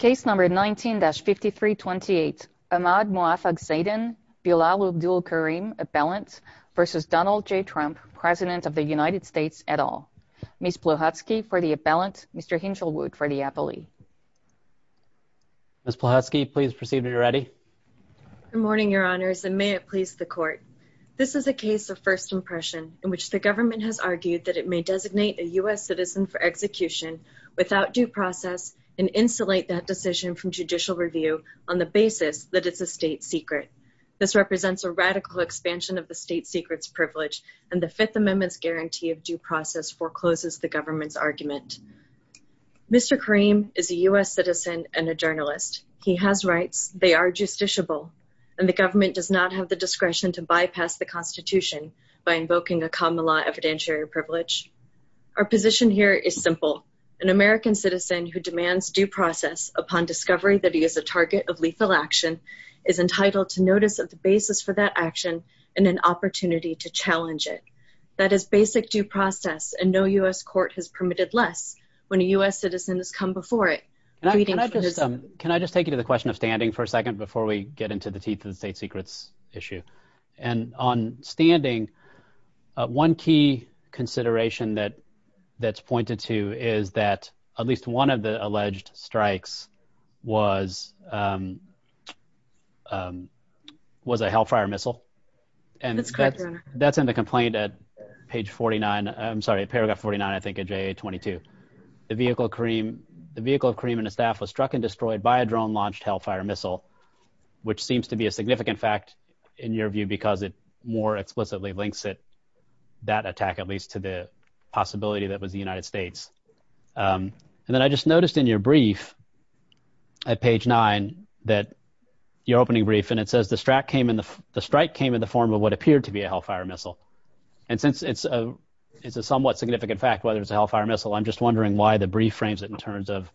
19-5328 Ahmad Muafag Zaidan v. Bilal Abdul Kareem appellant v. Donald J. Trump, President of the United States, et al. Ms. Pluchatsky for the appellant, Mr. Hinshelwood for the appellee. Ms. Pluchatsky, please proceed when you're ready. Good morning, Your Honors, and may it please the Court. This is a case of first impression in which the government has argued that it may designate a U.S. citizen for execution without due process and insulate that decision from judicial review on the basis that it's a state secret. This represents a radical expansion of the state secret's privilege, and the Fifth Amendment's guarantee of due process forecloses the government's argument. Mr. Kareem is a U.S. citizen and a journalist. He has rights, they are justiciable, and the government does not have the discretion to bypass the Constitution by invoking a common law evidentiary privilege. Our position here is simple. An American citizen who demands due process upon discovery that he is a target of lethal action is entitled to notice of the basis for that action and an opportunity to challenge it. That is basic due process, and no U.S. court has permitted less when a U.S. citizen has come before it. Can I just take you to the question of standing for a second before we get into the teeth of the state secret's issue? And on standing, one key consideration that's pointed to is that at least one of the alleged strikes was a Hellfire missile. That's correct, Your Honor. That's in the complaint at page 49, I'm sorry, paragraph 49, I think, of JA-22. The vehicle of Kareem and his staff was struck and destroyed by a drone-launched Hellfire missile, which seems to be a significant fact in your view because it more explicitly links it, that attack at least, to the possibility that it was the United States. And then I just noticed in your brief at page 9 that your opening brief, and it says the strike came in the form of what appeared to be a Hellfire missile. And since it's a somewhat significant fact whether it's a Hellfire missile, I'm just wondering why the brief frames it in terms of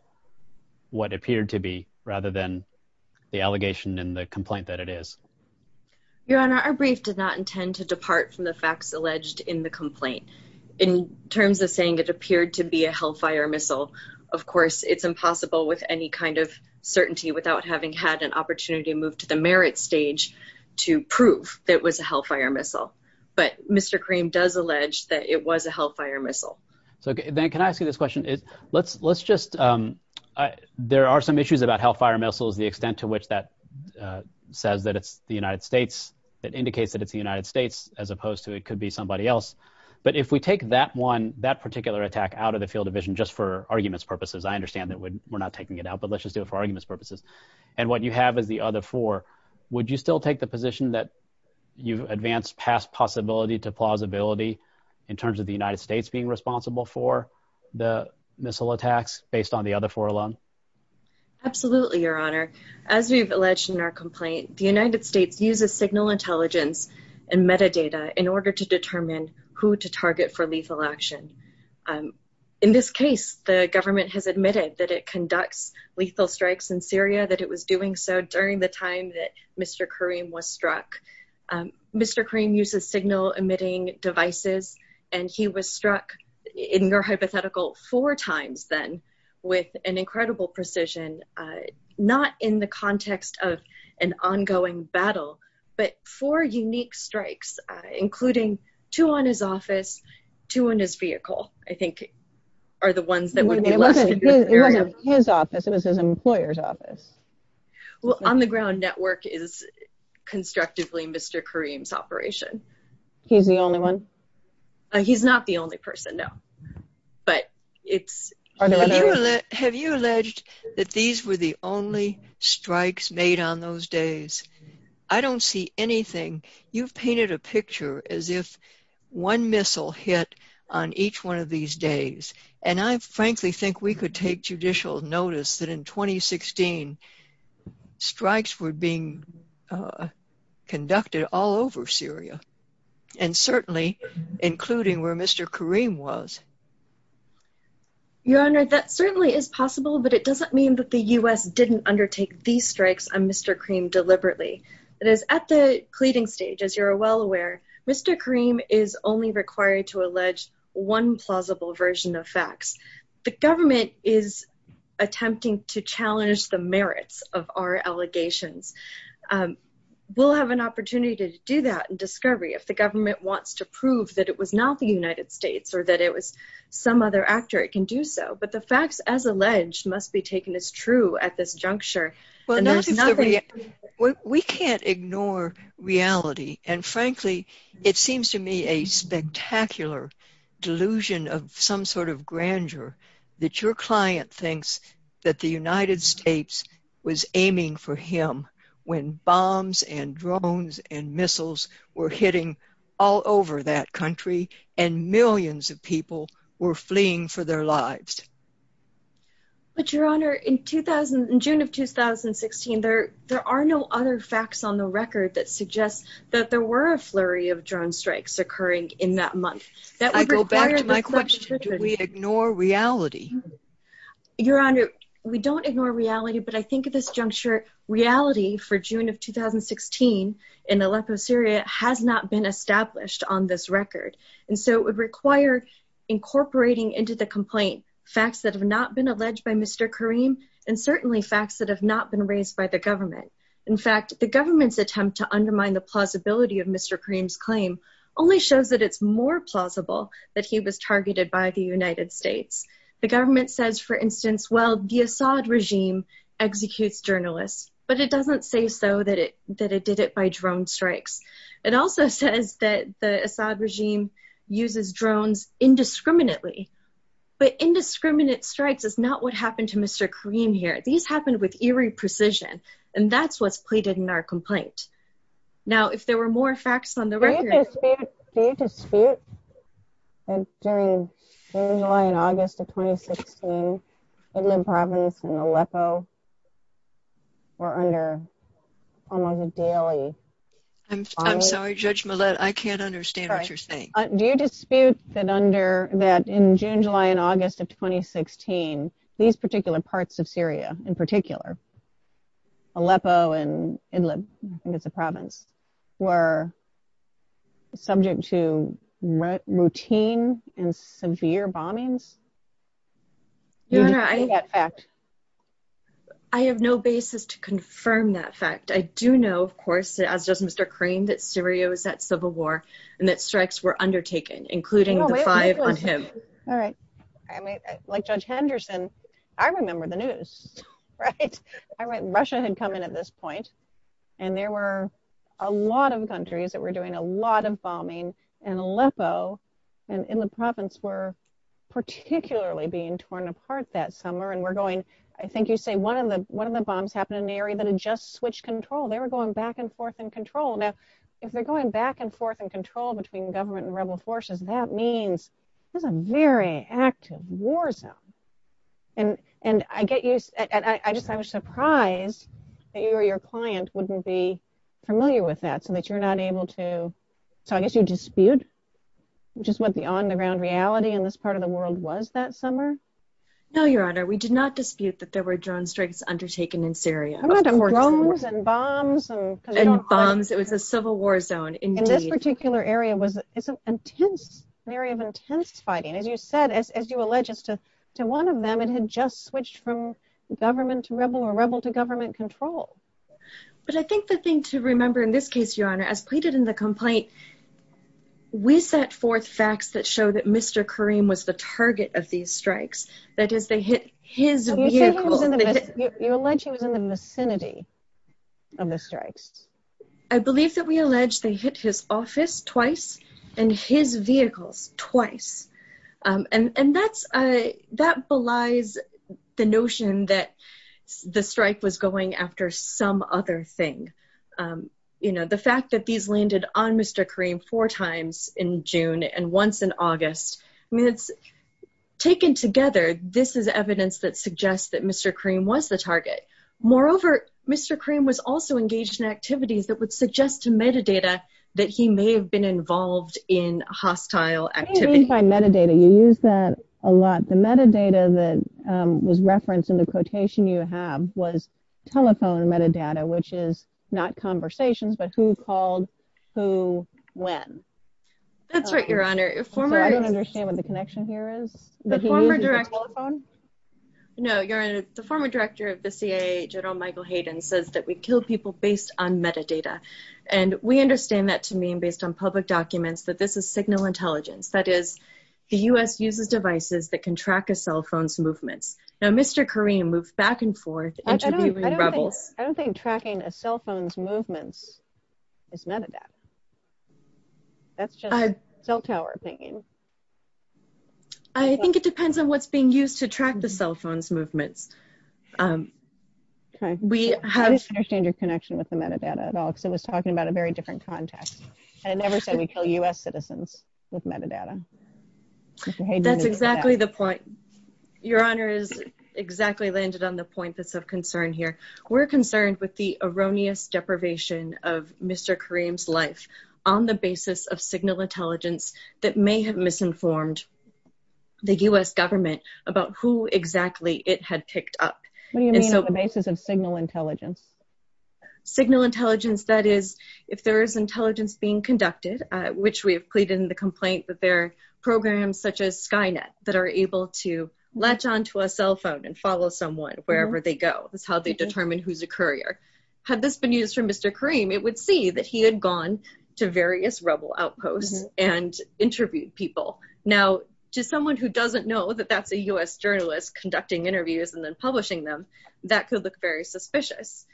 what appeared to be rather than the allegation in the complaint that it is. Your Honor, our brief did not intend to depart from the facts alleged in the complaint. In terms of saying it appeared to be a Hellfire missile, of course, it's impossible with any kind of certainty without having had an opportunity to move to the merit stage to prove that it was a Hellfire missile. But Mr. Kareem does allege that it was a Hellfire missile. So then can I ask you this question? Let's just – there are some issues about Hellfire missiles, the extent to which that says that it's the United States, that indicates that it's the United States, as opposed to it could be somebody else. But if we take that one, that particular attack, out of the field of vision just for arguments purposes – I understand that we're not taking it out, but let's just do it for arguments purposes – and what you have is the other four, would you still take the position that you've advanced past possibility to plausibility in terms of the United States being responsible for the missile attacks based on the other four alone? Absolutely, Your Honor. As we've alleged in our complaint, the United States uses signal intelligence and metadata in order to determine who to target for lethal action. In this case, the government has admitted that it conducts lethal strikes in Syria, that it was doing so during the time that Mr. Kareem was struck. Mr. Kareem uses signal-emitting devices, and he was struck, in your hypothetical, four times then with an incredible precision, not in the context of an ongoing battle, but four unique strikes, including two on his office, two on his vehicle, I think, are the ones that would be listed. It wasn't his office, it was his employer's office. Well, on the ground network is constructively Mr. Kareem's operation. He's the only one? He's not the only person, no. Have you alleged that these were the only strikes made on those days? I don't see anything. You've painted a picture as if one missile hit on each one of these days. And I frankly think we could take judicial notice that in 2016, strikes were being conducted all over Syria, and certainly including where Mr. Kareem was. Your Honor, that certainly is possible, but it doesn't mean that the US didn't undertake these strikes on Mr. Kareem deliberately. It is at the pleading stage, as you're well aware, Mr. Kareem is only required to allege one plausible version of facts. The government is attempting to challenge the merits of our allegations. We'll have an opportunity to do that in discovery if the government wants to prove that it was not the United States or that it was some other actor, it can do so. But the facts, as alleged, must be taken as true at this juncture. We can't ignore reality. And frankly, it seems to me a spectacular delusion of some sort of grandeur that your client thinks that the United States was aiming for him when bombs and drones and missiles were hitting all over that country and millions of people were fleeing for their lives. But your Honor, in June of 2016, there are no other facts on the record that suggest that there were a flurry of drone strikes occurring in that month. I go back to my question, do we ignore reality? Your Honor, we don't ignore reality, but I think at this juncture, reality for June of 2016 in Aleppo, Syria, has not been established on this record. And so it would require incorporating into the complaint facts that have not been alleged by Mr. Karim and certainly facts that have not been raised by the government. In fact, the government's attempt to undermine the plausibility of Mr. Karim's claim only shows that it's more plausible that he was targeted by the United States. The government says, for instance, well, the Assad regime executes journalists, but it doesn't say so that it did it by drone strikes. It also says that the Assad regime uses drones indiscriminately, but indiscriminate strikes is not what happened to Mr. Karim here. These happened with eerie precision, and that's what's pleaded in our complaint. Now, if there were more facts on the record- Do you dispute that during July and August of 2016, Idlib province and Aleppo were under almost a daily- I'm sorry, Judge Millett, I can't understand what you're saying. Do you dispute that in June, July, and August of 2016, these particular parts of Syria, in particular, Aleppo and Idlib, I think it's a province, were subject to routine and severe bombings? I have no basis to confirm that fact. I do know, of course, as does Mr. Karim, that Syria was at civil war and that strikes were undertaken, including the five on him. All right. Like Judge Henderson, I remember the news, right? Russia had come in at this point, and there were a lot of countries that were doing a lot of bombing, and Aleppo and Idlib province were particularly being torn apart that summer. I think you say one of the bombs happened in the area that had just switched control. They were going back and forth in control. Now, if they're going back and forth in control between government and rebel forces, that means there's a very active war zone. I was surprised that you or your client wouldn't be familiar with that, so I guess you dispute just what the on-the-ground reality in this part of the world was that summer? No, Your Honor. We did not dispute that there were drone strikes undertaken in Syria. I meant drones and bombs. And bombs. It was a civil war zone, indeed. And this particular area was an area of intense fighting. As you said, as you allege, as to one of them, it had just switched from government to rebel or rebel to government control. But I think the thing to remember in this case, Your Honor, as pleaded in the complaint, we set forth facts that show that Mr. Karim was the target of these strikes. That is, they hit his vehicle. You allege he was in the vicinity of the strikes. I believe that we allege they hit his office twice and his vehicles twice. And that belies the notion that the strike was going after some other thing. You know, the fact that these landed on Mr. Karim four times in June and once in August, I mean, it's taken together. This is evidence that suggests that Mr. Karim was the target. Moreover, Mr. Karim was also engaged in activities that would suggest to metadata that he may have been involved in hostile activities. I mean, by metadata, you use that a lot. The metadata that was referenced in the quotation you have was telephone metadata, which is not conversations, but who called who when. That's right, Your Honor. I don't understand what the connection here is. No, Your Honor, the former director of the CIA, General Michael Hayden, says that we kill people based on metadata. And we understand that to mean, based on public documents, that this is signal intelligence. That is, the U.S. uses devices that can track a cell phone's movements. Now, Mr. Karim moves back and forth, interviewing rebels. I don't think tracking a cell phone's movements is metadata. That's just cell tower thinking. I think it depends on what's being used to track the cell phone's movements. I don't understand your connection with the metadata at all, because it was talking about a very different context. I never said we kill U.S. citizens with metadata. That's exactly the point. Your Honor has exactly landed on the point that's of concern here. We're concerned with the erroneous deprivation of Mr. Karim's life on the basis of signal intelligence that may have misinformed the U.S. government about who exactly it had picked up. What do you mean on the basis of signal intelligence? Signal intelligence, that is, if there is intelligence being conducted, which we have pleaded in the complaint that there are programs such as Skynet that are able to latch onto a cell phone and follow someone wherever they go. That's how they determine who's a courier. Had this been used for Mr. Karim, it would see that he had gone to various rebel outposts and interviewed people. Now, to someone who doesn't know that that's a U.S. journalist conducting interviews and then publishing them, that could look very suspicious.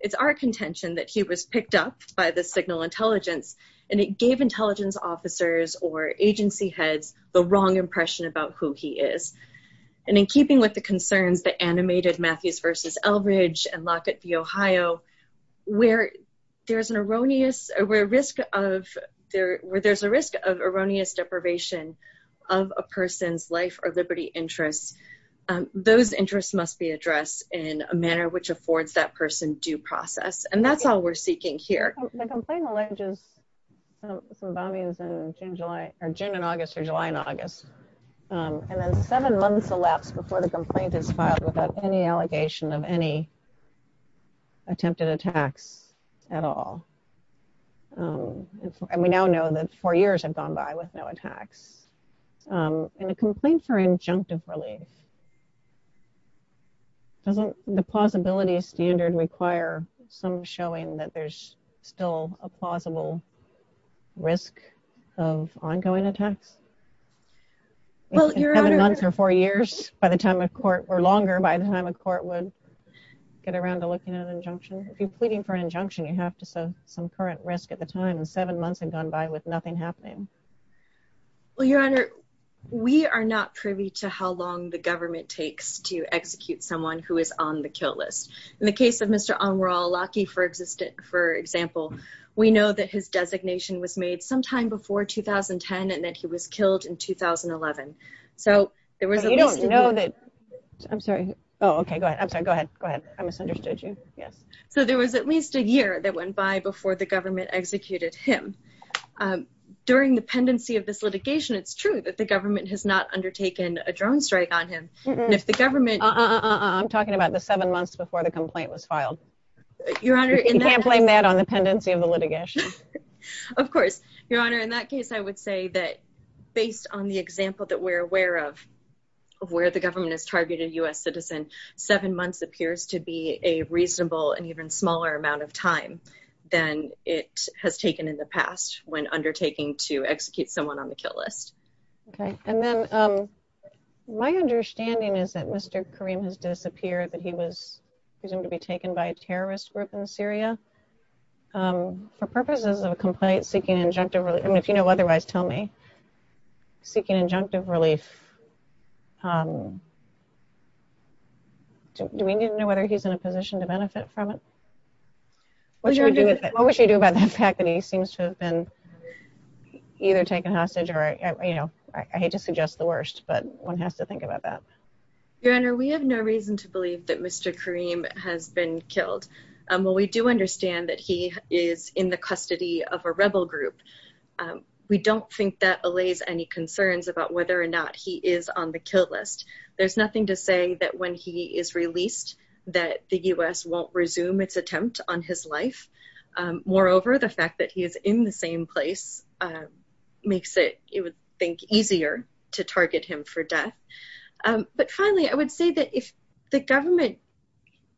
It's our contention that he was picked up by the signal intelligence, and it gave intelligence officers or agency heads the wrong impression about who he is. In keeping with the concerns that animated Matthews v. Eldridge and Lockett v. Ohio, where there's a risk of erroneous deprivation of a person's life or liberty interests, those interests must be addressed in a manner which affords that person due process. That's all we're seeking here. The complaint alleges some bombings in June and August or July and August, and then seven months elapsed before the complaint is filed without any allegation of any attempted attacks at all. And we now know that four years have gone by with no attacks. In a complaint for injunctive relief, doesn't the plausibility standard require some showing that there's still a plausible risk of ongoing attacks? Seven months or four years by the time a court, or longer by the time a court would get around to looking at an injunction? If you're pleading for an injunction, you have to say some current risk at the time, and seven months had gone by with nothing happening. Well, Your Honor, we are not privy to how long the government takes to execute someone who is on the kill list. In the case of Mr. Anwar al-Awlaki, for example, we know that his designation was made sometime before 2010 and that he was killed in 2011. You don't know that? I'm sorry. Oh, okay. Go ahead. I'm sorry. Go ahead. Go ahead. I misunderstood you. Yes. So there was at least a year that went by before the government executed him. During the pendency of this litigation, it's true that the government has not undertaken a drone strike on him. I'm talking about the seven months before the complaint was filed. You can't blame that on the pendency of the litigation. Of course, Your Honor. In that case, I would say that based on the example that we're aware of, where the government has targeted a U.S. citizen, seven months appears to be a reasonable and even smaller amount of time than it has taken in the past when undertaking to execute someone on the kill list. Okay. And then my understanding is that Mr. Karim has disappeared, that he was presumed to be taken by a terrorist group in Syria for purposes of a complaint seeking injunctive relief. And if you know otherwise, tell me. Seeking injunctive relief. Do we need to know whether he's in a position to benefit from it? What would you do about the fact that he seems to have been either taken hostage or, you know, I hate to suggest the worst, but one has to think about that. Your Honor, we have no reason to believe that Mr. Karim has been killed. While we do understand that he is in the custody of a rebel group, we don't think that allays any concerns about whether or not he is on the kill list. There's nothing to say that when he is released that the U.S. won't resume its attempt on his life. Moreover, the fact that he is in the same place makes it, you would think, easier to target him for death. But finally, I would say that if the government,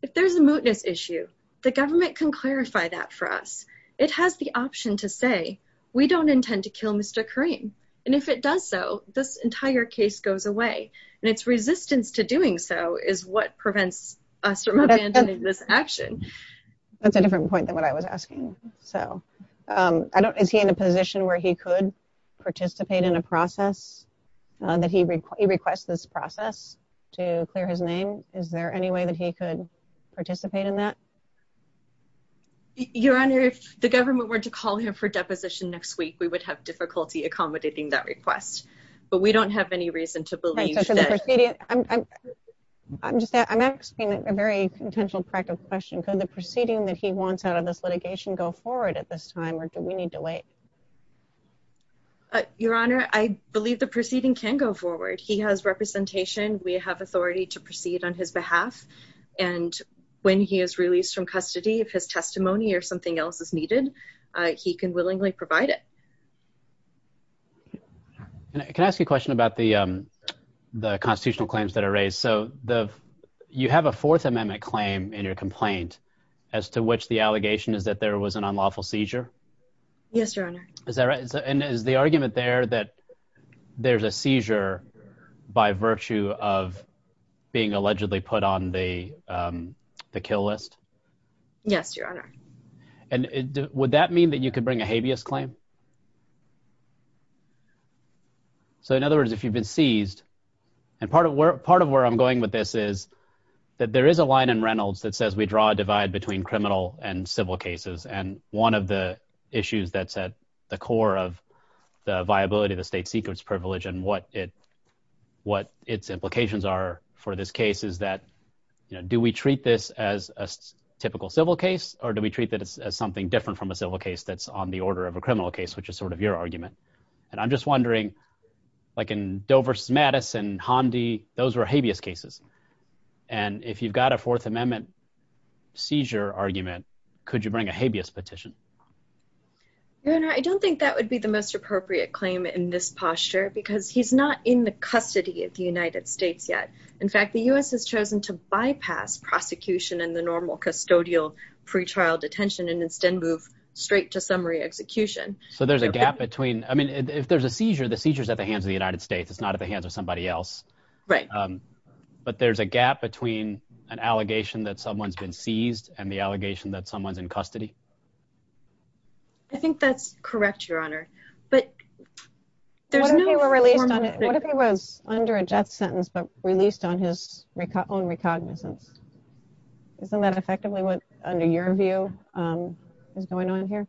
if there's a mootness issue, the government can clarify that for us. It has the option to say we don't intend to kill Mr. Karim. And if it does so, this entire case goes away. And its resistance to doing so is what prevents us from abandoning this action. That's a different point than what I was asking. So, I don't, is he in a position where he could participate in a process that he requests this process to clear his name? Is there any way that he could participate in that? Your Honor, if the government were to call him for deposition next week, we would have difficulty accommodating that request. But we don't have any reason to believe that. I'm just, I'm asking a very potential practical question. Could the proceeding that he wants out of this litigation go forward at this time, or do we need to wait? Your Honor, I believe the proceeding can go forward. He has representation. We have authority to proceed on his behalf. And when he is released from custody, if his testimony or something else is needed, he can willingly provide it. Can I ask you a question about the constitutional claims that are raised? So, you have a Fourth Amendment claim in your complaint, as to which the allegation is that there was an unlawful seizure? Yes, Your Honor. Is that right? And is the argument there that there's a seizure by virtue of being allegedly put on the kill list? Yes, Your Honor. And would that mean that you could bring a habeas claim? So, in other words, if you've been seized, and part of where I'm going with this is that there is a line in Reynolds that says, we draw a divide between criminal and civil cases. And one of the issues that's at the core of the viability of the state's secrets privilege, and what its implications are for this case, is that, you know, do we treat this as a typical civil case, or do we treat this as something different from a civil case that's on the order of a criminal case, which is sort of your argument? And I'm just wondering, like in Dover v. Mattis and Hamdi, those were habeas cases. And if you've got a Fourth Amendment seizure argument, could you bring a habeas petition? Your Honor, I don't think that would be the most appropriate claim in this posture, because he's not in the custody of the United States yet. In fact, the U.S. has chosen to bypass prosecution and the normal custodial pretrial detention, and instead move straight to summary execution. So there's a gap between, I mean, if there's a seizure, the seizure's at the hands of the United States. It's not at the hands of somebody else. Right. But there's a gap between an allegation that someone's been seized and the allegation that someone's in custody. I think that's correct, Your Honor. But there's no formal— What if he was under a death sentence but released on his own recognizance? Isn't that effectively what, under your view, is going on here?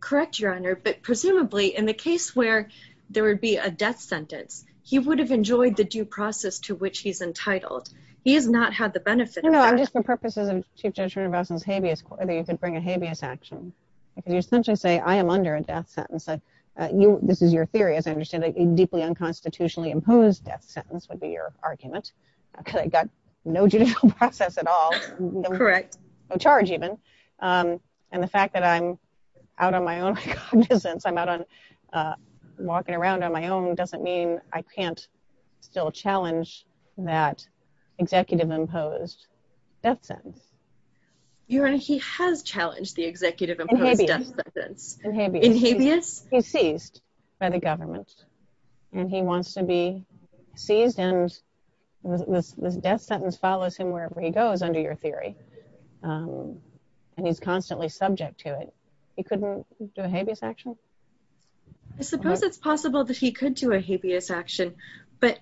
Correct, Your Honor. But presumably, in the case where there would be a death sentence, he would have enjoyed the due process to which he's entitled. He has not had the benefit of that. No, I'm just for purposes of Chief Judge Rene Voslin's habeas, whether you could bring a habeas action. Because you essentially say, I am under a death sentence. This is your theory, as I understand it. A deeply unconstitutionally imposed death sentence would be your argument, because I've got no judicial process at all. Correct. No charge, even. And the fact that I'm out on my own recognizance, I'm out walking around on my own, doesn't mean I can't still challenge that executive-imposed death sentence. Your Honor, he has challenged the executive-imposed death sentence. In habeas. In habeas. He's seized by the government. And he wants to be seized, and this death sentence follows him wherever he goes, under your theory. And he's constantly subject to it. He couldn't do a habeas action? I suppose it's possible that he could do a habeas action, but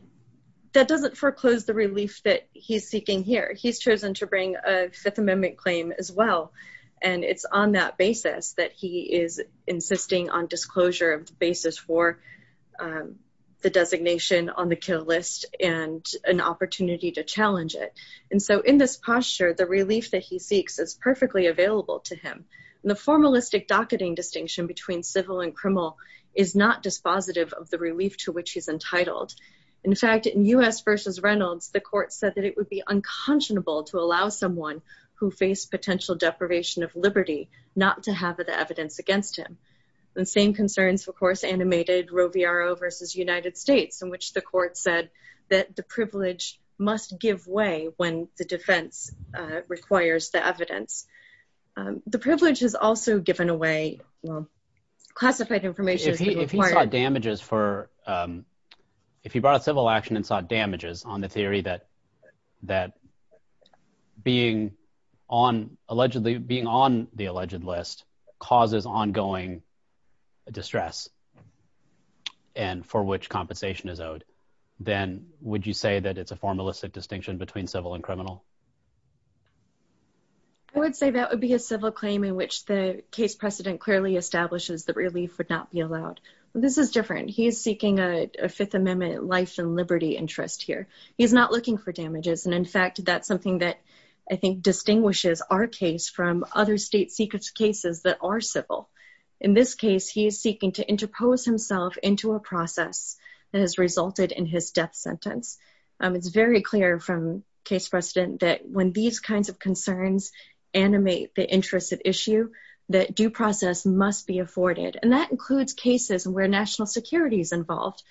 that doesn't foreclose the relief that he's seeking here. He's chosen to bring a Fifth Amendment claim as well. And it's on that basis that he is insisting on disclosure of the basis for the designation on the kill list and an opportunity to challenge it. And so in this posture, the relief that he seeks is perfectly available to him. The formalistic docketing distinction between civil and criminal is not dispositive of the relief to which he's entitled. In fact, in U.S. v. Reynolds, the court said that it would be unconscionable to allow someone who faced potential deprivation of liberty not to have the evidence against him. The same concerns, of course, animated Roe v. Roe v. United States, in which the court said that the privilege must give way when the defense requires the evidence. The privilege has also given away classified information. If he brought a civil action and sought damages on the theory that being on the alleged list causes ongoing distress and for which compensation is owed, then would you say that it's a formalistic distinction between civil and criminal? I would say that would be a civil claim in which the case precedent clearly establishes that relief would not be allowed. This is different. He is seeking a Fifth Amendment life and liberty interest here. He's not looking for damages. And, in fact, that's something that I think distinguishes our case from other state secret cases that are civil. In this case, he is seeking to interpose himself into a process that has resulted in his death sentence. It's very clear from case precedent that when these kinds of concerns animate the interest at issue, that due process must be afforded. And that includes cases where national security is involved.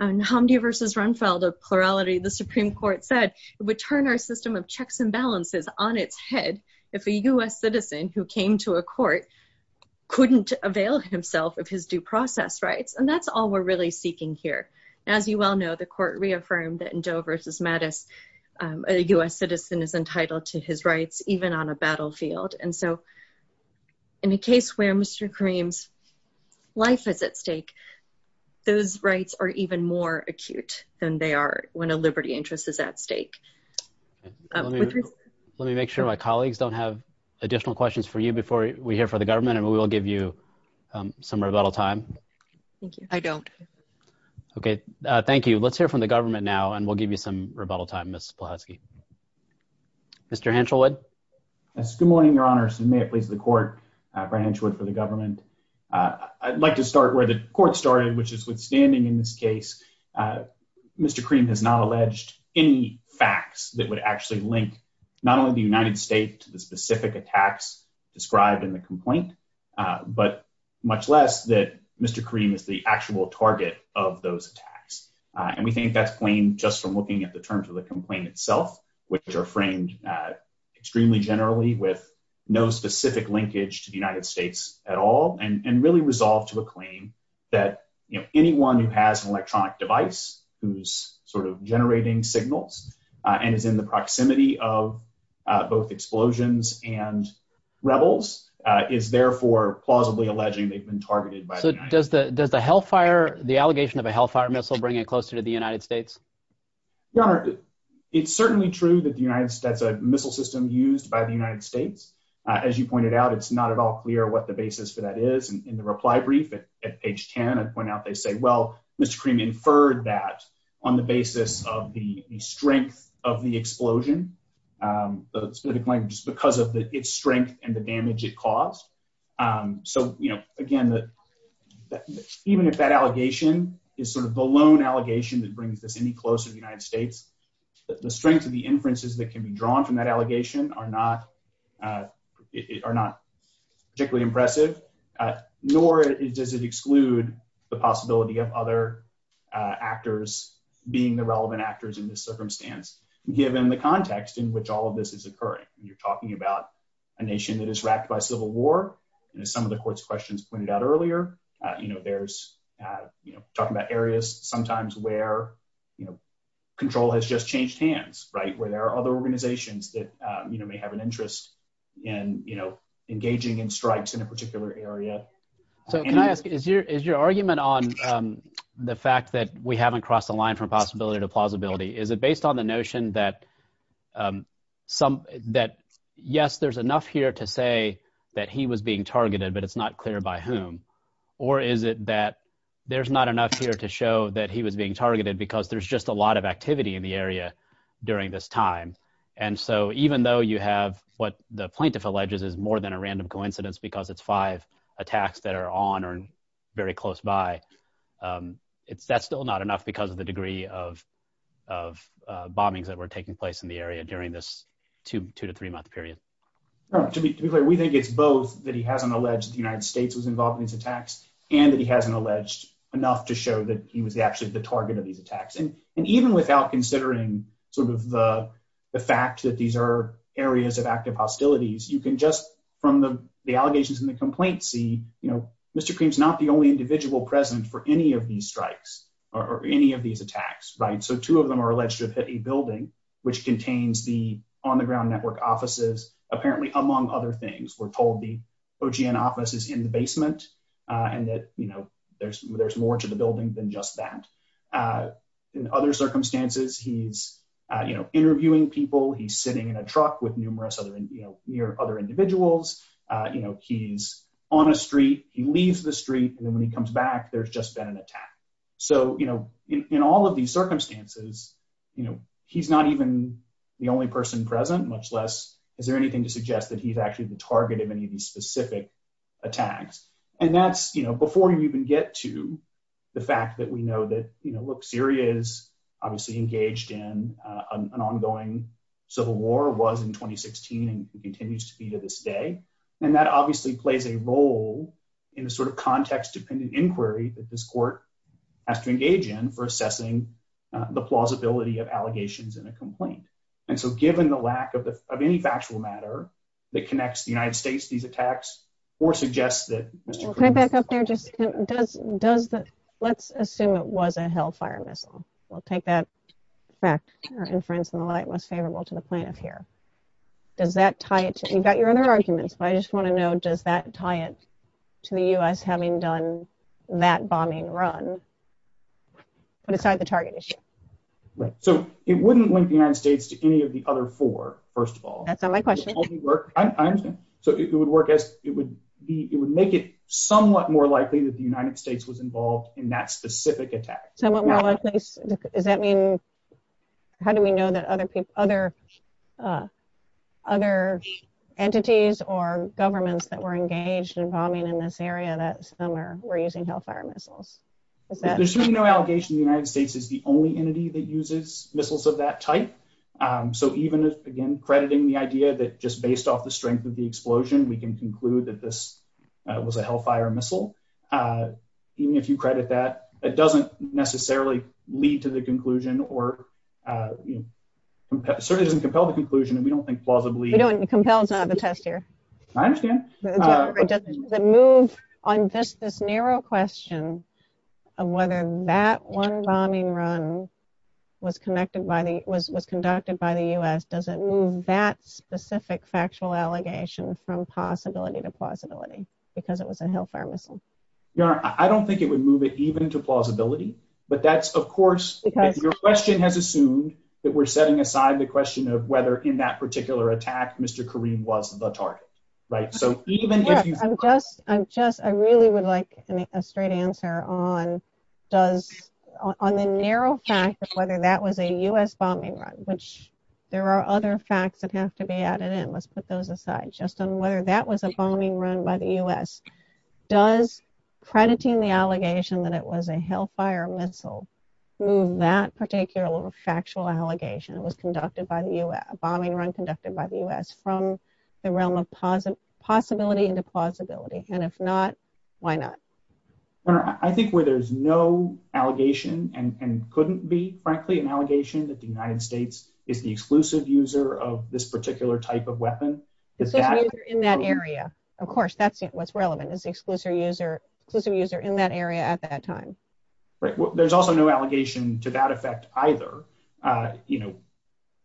In Hamdi v. Runfeld, a plurality, the Supreme Court said it would turn our system of checks and balances on its head if a U.S. citizen who came to a court couldn't avail himself of his due process rights. And that's all we're really seeking here. As you well know, the court reaffirmed that in Doe v. Mattis, a U.S. citizen is entitled to his rights even on a battlefield. And so, in a case where Mr. Karim's life is at stake, those rights are even more acute than they are when a liberty interest is at stake. Let me make sure my colleagues don't have additional questions for you before we hear from the government, and we will give you some rebuttal time. I don't. Okay, thank you. Let's hear from the government now, and we'll give you some rebuttal time, Ms. Plahatsky. Mr. Hanchelwood? Yes, good morning, Your Honors, and may it please the court, Brian Hanchelwood for the government. I'd like to start where the court started, which is withstanding in this case, Mr. Karim has not alleged any facts that would actually link not only the United States to the specific attacks described in the complaint, but much less that Mr. Karim is the actual target of those attacks. And we think that's claimed just from looking at the terms of the complaint itself, which are framed extremely generally with no specific linkage to the United States at all, and really resolved to a claim that anyone who has an electronic device, who's sort of generating signals, and is in the proximity of both explosions and rebels, is therefore plausibly alleging they've been targeted by the United States. So does the allegation of a Hellfire missile bring it closer to the United States? Your Honor, it's certainly true that that's a missile system used by the United States. As you pointed out, it's not at all clear what the basis for that is. In the reply brief at page 10, I point out they say, well, Mr. Karim inferred that on the basis of the strength of the explosion. The specific language is because of its strength and the damage it caused. So, you know, again, even if that allegation is sort of the lone allegation that brings this any closer to the United States, the strength of the inferences that can be drawn from that allegation are not particularly impressive, nor does it exclude the possibility of other actors being the relevant actors in this circumstance, given the context in which all of this is occurring. You're talking about a nation that is wracked by civil war, and as some of the court's questions pointed out earlier, you know, there's, you know, talking about areas sometimes where, you know, control has just changed hands, right, where there are other organizations that, you know, may have an interest in, you know, engaging in strikes in a particular area. So can I ask, is your argument on the fact that we haven't crossed the line from possibility to plausibility, is it based on the notion that yes, there's enough here to say that he was being targeted, but it's not clear by whom? Or is it that there's not enough here to show that he was being targeted because there's just a lot of activity in the area during this time? And so even though you have what the plaintiff alleges is more than a random coincidence because it's five attacks that are on or very close by, that's still not enough because of the degree of bombings that were taking place in the area during this two to three month period. To be clear, we think it's both that he hasn't alleged the United States was involved in these attacks, and that he hasn't alleged enough to show that he was actually the target of these attacks. And even without considering sort of the fact that these are areas of active hostilities, you can just from the allegations and the complaints see, you know, Mr. Cream's not the only individual present for any of these strikes or any of these attacks. Right. So two of them are alleged to have hit a building which contains the on the ground network offices. Apparently, among other things, we're told the OGN office is in the basement and that, you know, there's there's more to the building than just that. In other circumstances, he's, you know, interviewing people. He's sitting in a truck with numerous other near other individuals. You know, he's on a street. He leaves the street. And then when he comes back, there's just been an attack. So, you know, in all of these circumstances, you know, he's not even the only person present, much less. Is there anything to suggest that he's actually the target of any of these specific attacks? And that's, you know, before you even get to the fact that we know that, you know, look, Syria is obviously engaged in an ongoing civil war was in 2016 and continues to be to this day. And that obviously plays a role in the sort of context dependent inquiry that this court has to engage in for assessing the plausibility of allegations in a complaint. And so, given the lack of any factual matter that connects the United States, these attacks or suggests that... Can I back up there? Let's assume it was a Hellfire missile. We'll take that fact or inference in the light most favorable to the plaintiff here. Does that tie it? You've got your other arguments, but I just want to know, does that tie it to the U.S. having done that bombing run? Put aside the target issue. So it wouldn't link the United States to any of the other four, first of all. That's not my question. I understand. So it would work as it would be, it would make it somewhat more likely that the United States was involved in that specific attack. Somewhat more likely, does that mean, how do we know that other people, other, other entities or governments that were engaged in bombing in this area that summer were using Hellfire missiles? There's certainly no allegation the United States is the only entity that uses missiles of that type. So even if, again, crediting the idea that just based off the strength of the explosion, we can conclude that this was a Hellfire missile. Even if you credit that, it doesn't necessarily lead to the conclusion or certainly doesn't compel the conclusion and we don't think plausibly... It compels not to have a test here. I understand. Does it move on this narrow question of whether that one bombing run was conducted by the U.S., does it move that specific factual allegation from possibility to plausibility because it was a Hellfire missile? I don't think it would move it even to plausibility. But that's, of course, your question has assumed that we're setting aside the question of whether in that particular attack, Mr. Kareem was the target, right? So even if you... I'm just, I'm just, I really would like a straight answer on does, on the narrow fact of whether that was a U.S. bombing run, which there are other facts that have to be added in. Let's put those aside. Just on whether that was a bombing run by the U.S., does crediting the allegation that it was a Hellfire missile move that particular factual allegation that was conducted by the U.S., a bombing run conducted by the U.S., from the realm of possibility into plausibility? And if not, why not? I think where there's no allegation and couldn't be, frankly, an allegation that the United States is the exclusive user of this particular type of weapon... Is the exclusive user in that area. Of course, that's what's relevant, is the exclusive user in that area at that time. Right. Well, there's also no allegation to that effect either. You know,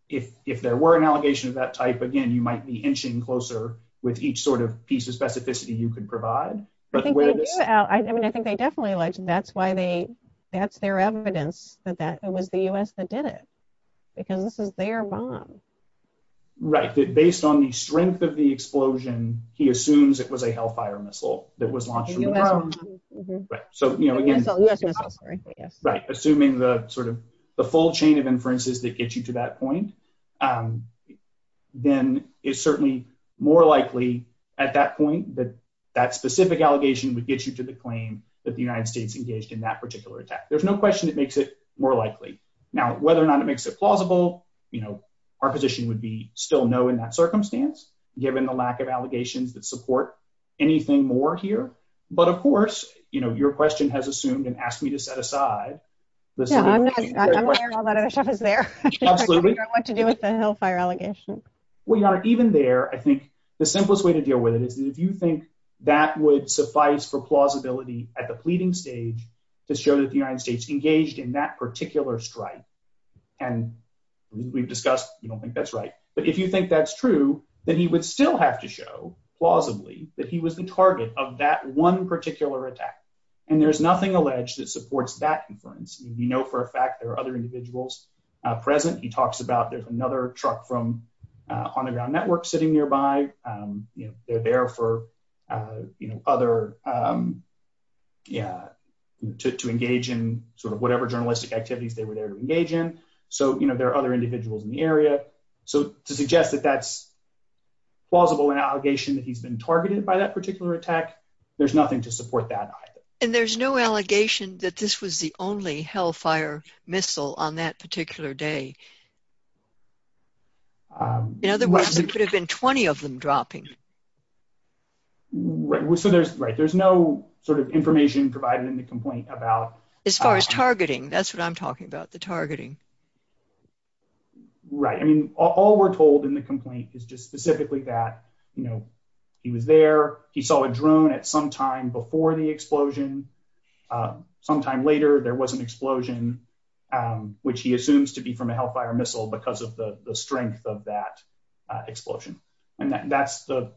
if there were an allegation of that type, again, you might be inching closer with each sort of piece of specificity you could provide. I mean, I think they definitely alleged that's their evidence that it was the U.S. that did it, because this is their bomb. Right. Based on the strength of the explosion, he assumes it was a Hellfire missile that was launched from the ground. Right. So, you know, assuming the sort of the full chain of inferences that gets you to that point, then it's certainly more likely at that point that that specific allegation would get you to the claim that the United States engaged in that particular attack. There's no question that makes it more likely. Now, whether or not it makes it plausible, you know, our position would be still no in that circumstance, given the lack of allegations that support anything more here. But of course, you know, your question has assumed and asked me to set aside. Yeah, I'm aware all that other stuff is there. Absolutely. I don't know what to do with the Hellfire allegation. Well, you know, even there, I think the simplest way to deal with it is that if you think that would suffice for plausibility at the pleading stage to show that the United States engaged in that particular strike. And we've discussed, you don't think that's right. But if you think that's true, then he would still have to show, plausibly, that he was the target of that one particular attack. And there's nothing alleged that supports that inference. We know for a fact there are other individuals present. He talks about there's another truck from on the ground network sitting nearby. They're there for, you know, other, yeah, to engage in sort of whatever journalistic activities they were there to engage in. So, you know, there are other individuals in the area. So to suggest that that's plausible an allegation that he's been targeted by that particular attack. There's nothing to support that either. And there's no allegation that this was the only Hellfire missile on that particular day. In other words, it could have been 20 of them dropping. Right. So there's, right. There's no sort of information provided in the complaint about As far as targeting. That's what I'm talking about the targeting. Right. I mean, all we're told in the complaint is just specifically that, you know, he was there. He saw a drone at some time before the explosion. Sometime later, there was an explosion, which he assumes to be from a Hellfire missile because of the strength of that explosion. And that's the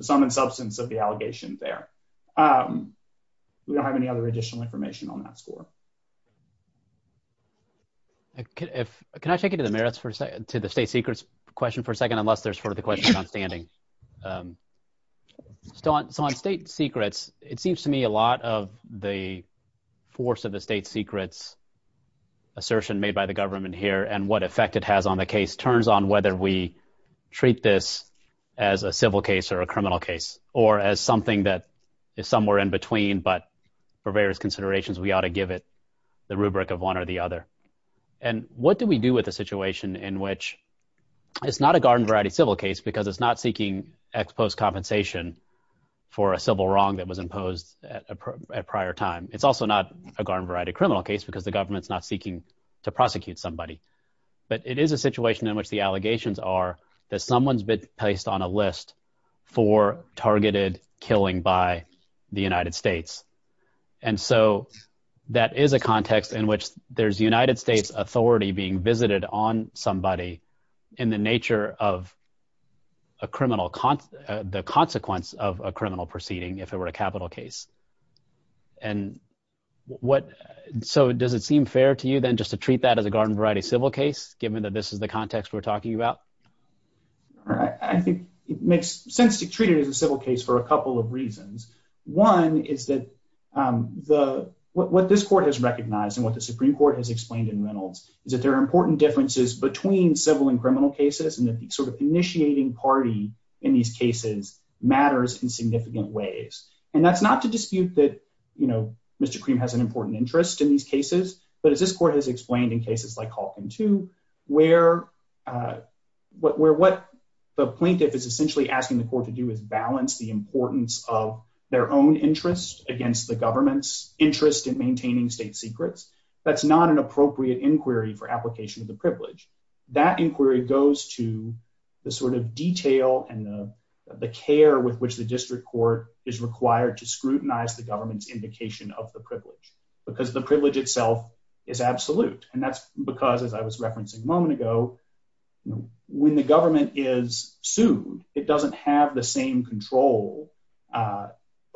sum and substance of the allegation there. We don't have any other additional information on that score. Can I take you to the merits for a second to the state secrets question for a second, unless there's further questions on standing. So on state secrets, it seems to me a lot of the force of the state secrets assertion made by the government here and what effect it has on the case turns on whether we treat this as a civil case or a criminal case or as something that is somewhere in between. But for various considerations, we ought to give it the rubric of one or the other. And what do we do with the situation in which It's not a garden variety civil case because it's not seeking ex post compensation for a civil wrong that was imposed at a prior time. It's also not a garden variety criminal case because the government's not seeking to prosecute somebody But it is a situation in which the allegations are that someone's been placed on a list for targeted killing by the United States. And so that is a context in which there's United States authority being visited on somebody in the nature of A criminal con the consequence of a criminal proceeding. If it were a capital case. And what. So does it seem fair to you then just to treat that as a garden variety civil case, given that this is the context we're talking about I think it makes sense to treat it as a civil case for a couple of reasons. One is that The what this court has recognized and what the Supreme Court has explained in Reynolds is that they're important differences between civil and criminal cases and that the sort of initiating party. In these cases matters in significant ways. And that's not to dispute that you know Mr cream has an important interest in these cases, but as this court has explained in cases like talking to where What we're what the plaintiff is essentially asking the court to do is balance the importance of their own interest against the government's interest in maintaining state secrets. That's not an appropriate inquiry for application of the privilege that inquiry goes to the sort of detail and The care with which the district court is required to scrutinize the government's indication of the privilege because the privilege itself. Is absolute and that's because, as I was referencing moment ago when the government is sued. It doesn't have the same control.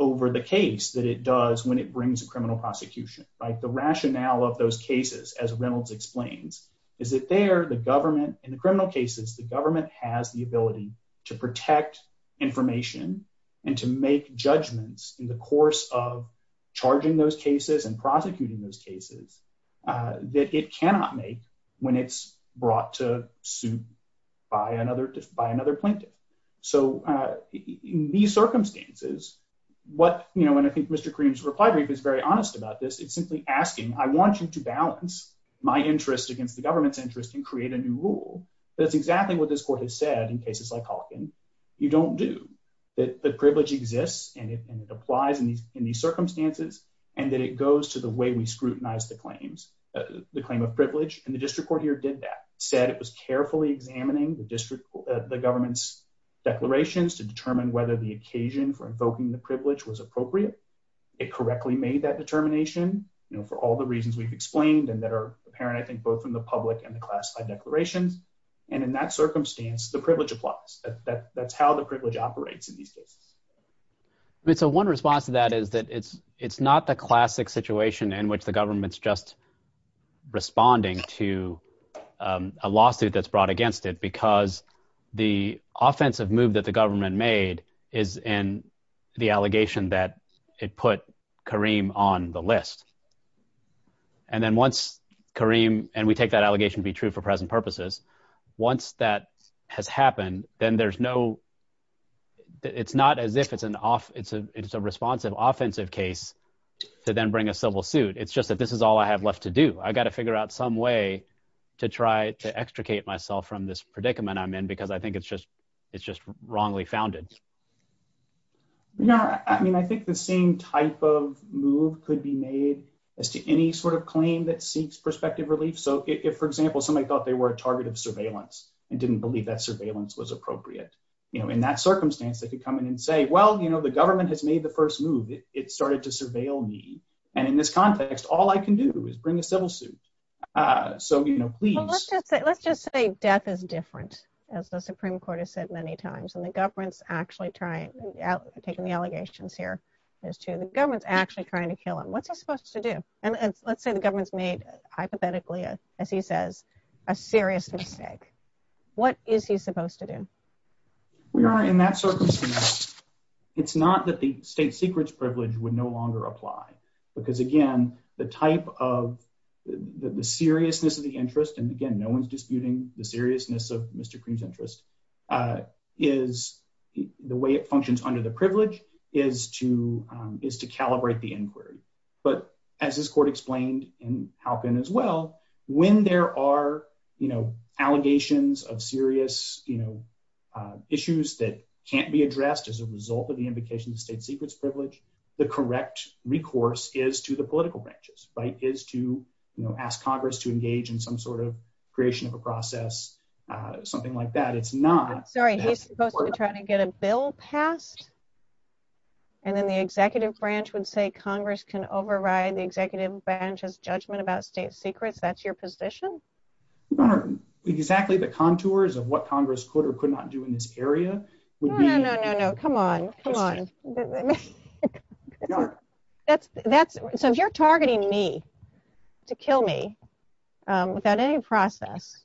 Over the case that it does when it brings a criminal prosecution, like the rationale of those cases as Reynolds explains Is it there the government in the criminal cases, the government has the ability to protect information and to make judgments in the course of charging those cases and prosecuting those cases. That it cannot make when it's brought to suit by another by another plaintiff. So, The circumstances what you know when I think Mr creams reply brief is very honest about this. It's simply asking, I want you to balance my interest against the government's interest and create a new rule. That's exactly what this court has said in cases like talking. You don't do that the privilege exists and it applies in these in these circumstances, and that it goes to the way we scrutinize the claims. The claim of privilege and the district court here did that said it was carefully examining the district, the government's declarations to determine whether the occasion for invoking the privilege was appropriate. It correctly made that determination, you know, for all the reasons we've explained and that are apparent. I think both in the public and the classified declarations and in that circumstance, the privilege applies that that's how the privilege operates in these cases. It's a one response to that is that it's it's not the classic situation in which the government's just responding to a lawsuit that's brought against it because the offensive move that the government made is in the allegation that it put Kareem on the list. And then once Kareem and we take that allegation be true for present purposes. Once that has happened, then there's no. It's not as if it's an off. It's a, it's a responsive offensive case to then bring a civil suit. It's just that this is all I have left to do. I got to figure out some way to try to extricate myself from this predicament. I'm in because I think it's just it's just wrongly founded Yeah, I mean, I think the same type of move could be made as to any sort of claim that seeks perspective relief. So if, for example, somebody thought they were a target of surveillance and didn't believe that surveillance was appropriate. You know, in that circumstance, they could come in and say, Well, you know, the government has made the first move it started to surveil me. And in this context, all I can do is bring a civil suit. So, you know, please Let's just say death is different as the Supreme Court has said many times and the government's actually trying out taking the allegations here. As to the government's actually trying to kill him. What's he supposed to do. And let's say the government's made hypothetically, as he says, a serious mistake. What is he supposed to do We are in that circumstance. It's not that the state secrets privilege would no longer apply. Because again, the type of the seriousness of the interest. And again, no one's disputing the seriousness of Mr cream's interest. Is the way it functions under the privilege is to is to calibrate the inquiry. But as this court explained and how can as well when there are, you know, allegations of serious, you know, Issues that can't be addressed as a result of the invocation of state secrets privilege, the correct recourse is to the political branches right is to, you know, ask Congress to engage in some sort of creation of a process, something like that. It's not Sorry, he's supposed to try to get a bill passed. And then the executive branch would say Congress can override the executive branch has judgment about state secrets. That's your position. Exactly the contours of what Congress could or could not do in this area. Come on, come on. That's, that's, so if you're targeting me to kill me without any process.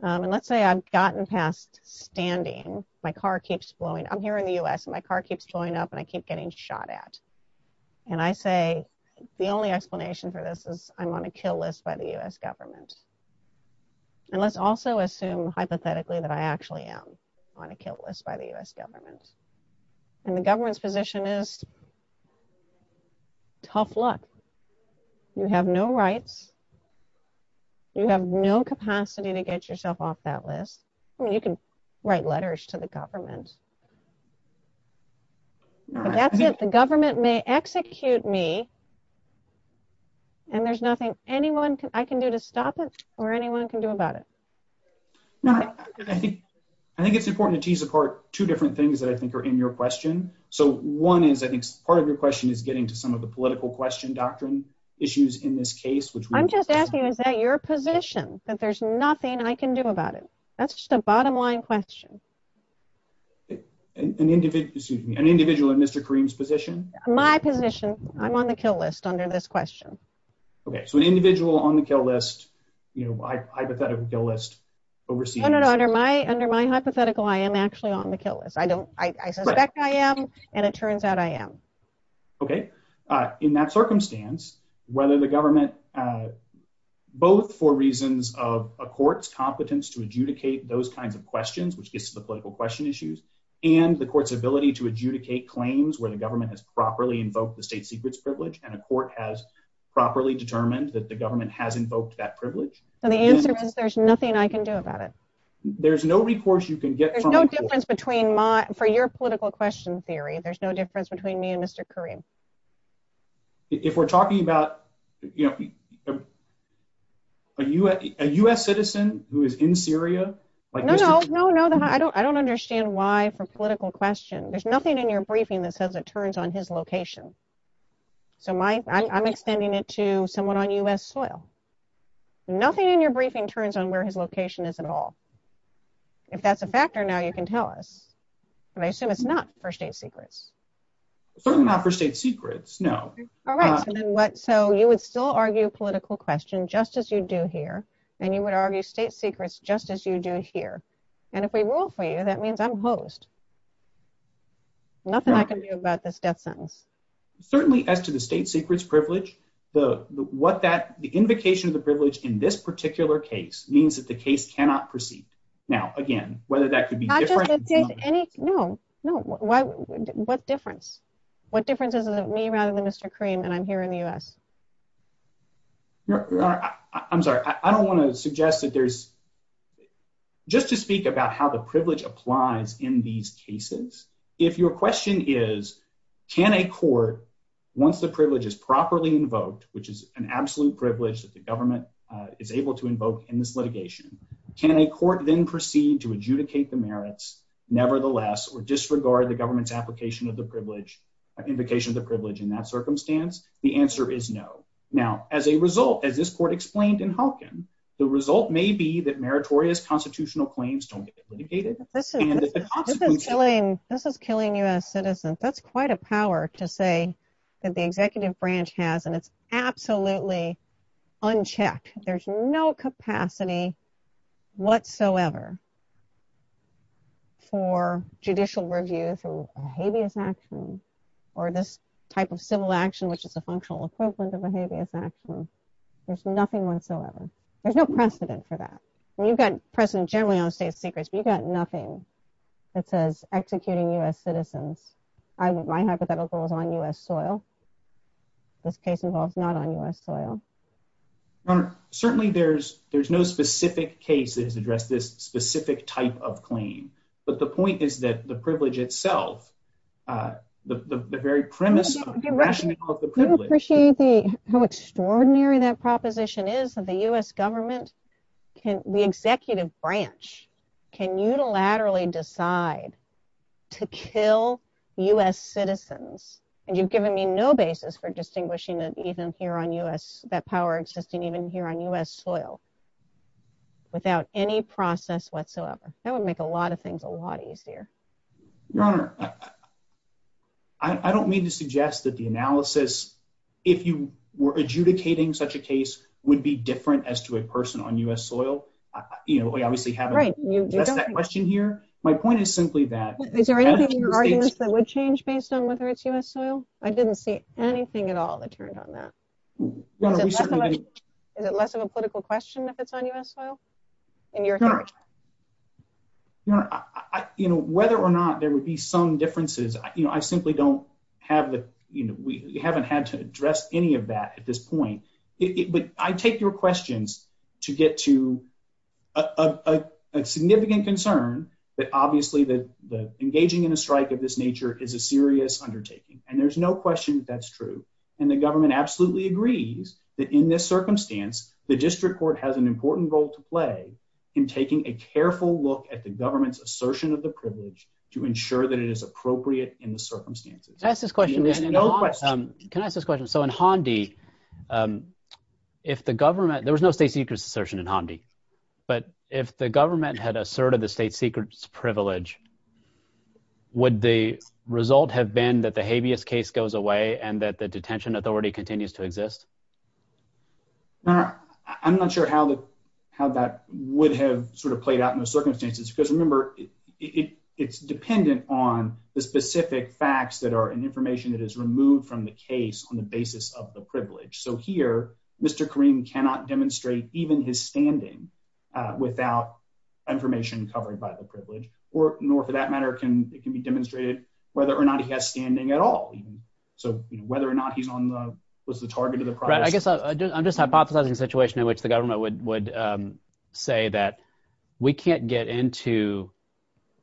And let's say I've gotten past standing my car keeps blowing. I'm here in the US and my car keeps going up and I keep getting shot at And I say, the only explanation for this is I'm on a kill list by the US government. And let's also assume hypothetically that I actually am on a kill list by the US government and the government's position is Tough luck. You have no rights. You have no capacity to get yourself off that list. I mean, you can write letters to the government. That's it. The government may execute me And there's nothing anyone can I can do to stop it or anyone can do about it. I think it's important to tease apart two different things that I think are in your question. So one is I think part of your question is getting to some of the political question doctrine issues in this case, which I'm just asking, is that your position that there's nothing I can do about it. That's just a bottom line question. An individual, excuse me, an individual in Mr. Kareem's position. My position. I'm on the kill list under this question. Okay, so an individual on the kill list, you know, hypothetical kill list overseeing Under my hypothetical I am actually on the kill list. I don't, I suspect I am and it turns out I am Okay. In that circumstance, whether the government Both for reasons of a court's competence to adjudicate those kinds of questions which gets to the political question issues. And the court's ability to adjudicate claims where the government has properly invoked the state secrets privilege and a court has Properly determined that the government has invoked that privilege. And the answer is there's nothing I can do about it. There's no recourse, you can get There's no difference between my for your political question theory. There's no difference between me and Mr. Kareem If we're talking about, you know, A US citizen who is in Syria. No, no, no, no. I don't, I don't understand why for political question. There's nothing in your briefing that says it turns on his location. So my I'm extending it to someone on US soil. Nothing in your briefing turns on where his location is at all. If that's a factor. Now you can tell us, and I assume it's not for state secrets. Certainly not for state secrets. No. What so you would still argue political question, just as you do here and you would argue state secrets, just as you do here. And if we will for you. That means I'm host Nothing I can do about this death sentence. Certainly, as to the state secrets privilege the what that the invocation of the privilege in this particular case means that the case cannot proceed. Now again, whether that could be No, no. What difference. What differences of me rather than Mr cream and I'm here in the US. I'm sorry, I don't want to suggest that there's Just to speak about how the privilege applies in these cases. If your question is, can a court once the privilege is properly invoked, which is an absolute privilege that the government. Is able to invoke in this litigation. Can a court then proceed to adjudicate the merits, nevertheless, or disregard the government's application of the privilege. Invocation the privilege in that circumstance. The answer is no. Now, as a result, as this court explained in Hopkins, the result may be that meritorious constitutional claims don't get litigated. This is killing us citizen. That's quite a power to say that the executive branch has and it's absolutely unchecked. There's no capacity whatsoever. For judicial review through habeas action or this type of civil action, which is a functional equivalent of a habeas action. There's nothing whatsoever. There's no precedent for that you've got present generally on state secrets. We've got nothing that says executing us citizens. I would my hypothetical is on US soil. This case involves not on US soil. Certainly, there's, there's no specific cases address this specific type of claim. But the point is that the privilege itself. The very premise. Appreciate the how extraordinary that proposition is that the US government can the executive branch can unilaterally decide to kill us citizens and you've given me no basis for distinguishing that even here on us that power existing even here on us soil. Without any process whatsoever. That would make a lot of things a lot easier. Your Honor. I don't mean to suggest that the analysis. If you were adjudicating such a case would be different as to a person on US soil. You know, we obviously have a great question here. My point is simply that That would change based on whether it's US soil. I didn't see anything at all that turned on that. Is it less of a political question if it's on US soil in your You know, whether or not there would be some differences, you know, I simply don't have the, you know, we haven't had to address any of that at this point, but I take your questions to get to A significant concern that obviously that the engaging in a strike of this nature is a serious undertaking. And there's no question that's true. And the government absolutely agrees that in this circumstance, the district court has an important role to play in taking a careful look at the government's assertion of the privilege to ensure that it is appropriate in the circumstances. Can I ask this question. So in Handi If the government, there was no state secrets assertion in Handi, but if the government had asserted the state secrets privilege. Would the result have been that the habeas case goes away and that the detention authority continues to exist. Now, I'm not sure how that how that would have sort of played out in the circumstances because remember It's dependent on the specific facts that are in information that is removed from the case on the basis of the privilege. So here, Mr. Kareem cannot demonstrate even his standing. Without information covered by the privilege or nor for that matter can it can be demonstrated whether or not he has standing at all. So whether or not he's on the was the target of the I'm just hypothesizing situation in which the government would would say that we can't get into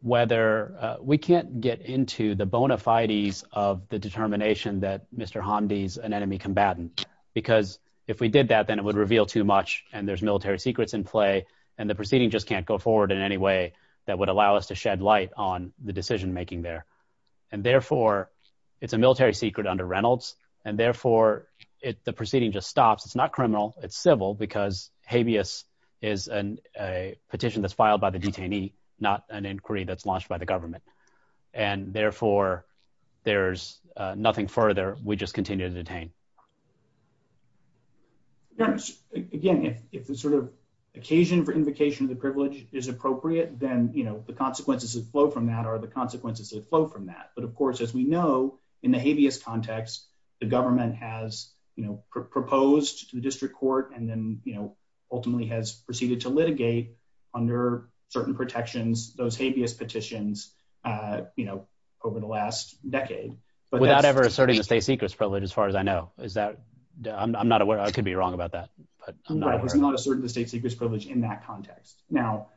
Whether we can't get into the bona fides of the determination that Mr. Hamdi is an enemy combatant. Because if we did that, then it would reveal too much and there's military secrets in play and the proceeding just can't go forward in any way that would allow us to shed light on the decision making there. And therefore, it's a military secret under Reynolds and therefore it the proceeding just stops. It's not criminal. It's civil because habeas is an Petition that's filed by the detainee, not an inquiry that's launched by the government and therefore there's nothing further we just continue to detain Again, if it's sort of occasion for invocation of the privilege is appropriate, then, you know, the consequences of flow from that are the consequences of flow from that. But of course, as we know, in the habeas context. The government has, you know, proposed to the district court and then, you know, ultimately has proceeded to litigate under certain protections those habeas petitions, you know, over the last decade. But without ever asserting the state secrets privilege. As far as I know, is that I'm not aware. I could be wrong about that, but It's not a certain the state secrets privilege in that context. Now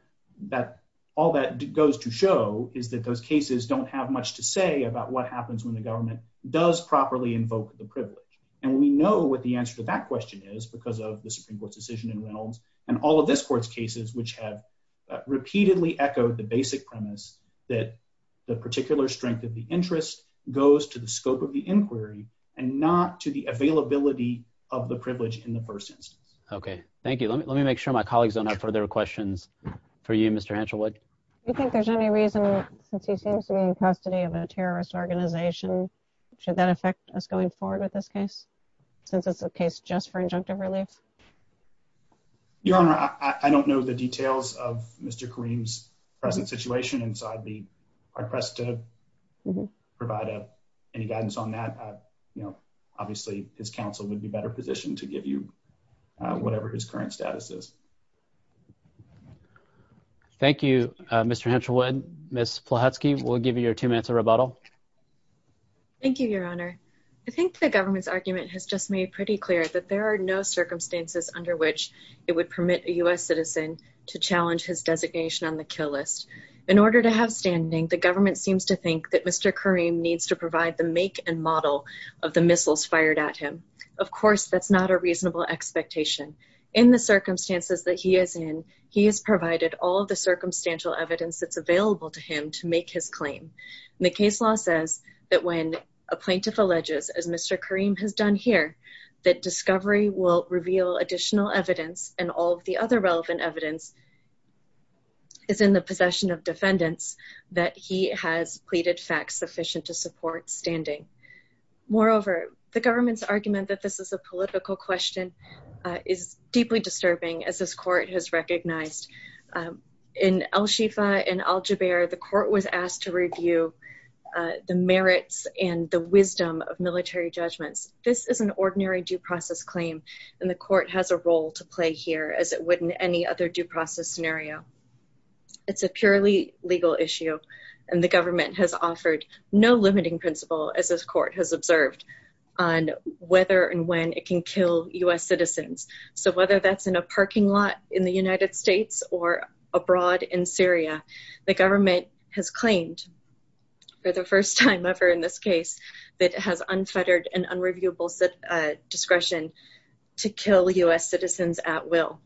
that all that goes to show is that those cases don't have much to say about what happens when the government does properly invoke the privilege And we know what the answer to that question is because of the Supreme Court's decision and Reynolds and all of this court's cases which have Repeatedly echoed the basic premise that the particular strength of the interest goes to the scope of the inquiry and not to the availability of the privilege in the first instance. Okay, thank you. Let me, let me make sure my colleagues don't have further questions for you, Mr. Hanselwood You think there's any reason since he seems to be in custody of a terrorist organization. Should that affect us going forward with this case, since it's a case just for injunctive relief. Your Honor, I don't know the details of Mr. Kareem's present situation inside the press to Provide any guidance on that, you know, obviously, his counsel would be better positioned to give you whatever his current status is Thank you, Mr. Hanselwood. Miss Plahatsky will give you your two minutes of rebuttal. Thank you, Your Honor. I think the government's argument has just made pretty clear that there are no circumstances under which it would permit a US citizen to challenge his designation on the kill list. In order to have standing the government seems to think that Mr. Kareem needs to provide the make and model of the missiles fired at him. Of course, that's not a reasonable expectation. In the circumstances that he is in, he has provided all the circumstantial evidence that's available to him to make his claim. The case law says that when a plaintiff alleges as Mr. Kareem has done here that discovery will reveal additional evidence and all the other relevant evidence Is in the possession of defendants that he has pleaded facts sufficient to support standing Moreover, the government's argument that this is a political question is deeply disturbing as this court has recognized In al-Shifa and al-Jubeir, the court was asked to review the merits and the wisdom of military judgments. This is an ordinary due process claim and the court has a role to play here as it would in any other due process scenario. It's a purely legal issue and the government has offered no limiting principle as this court has observed On whether and when it can kill US citizens. So whether that's in a parking lot in the United States or abroad in Syria, the government has claimed For the first time ever in this case that has unfettered and unreviewable discretion to kill US citizens at will.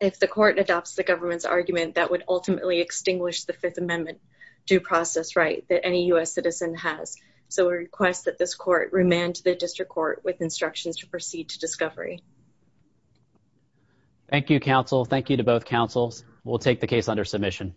If the court adopts the government's argument that would ultimately extinguish the Fifth Amendment due process right that any US citizen has. So we request that this court remand to the district court with instructions to proceed to discovery. Thank you, counsel. Thank you to both councils will take the case under submission.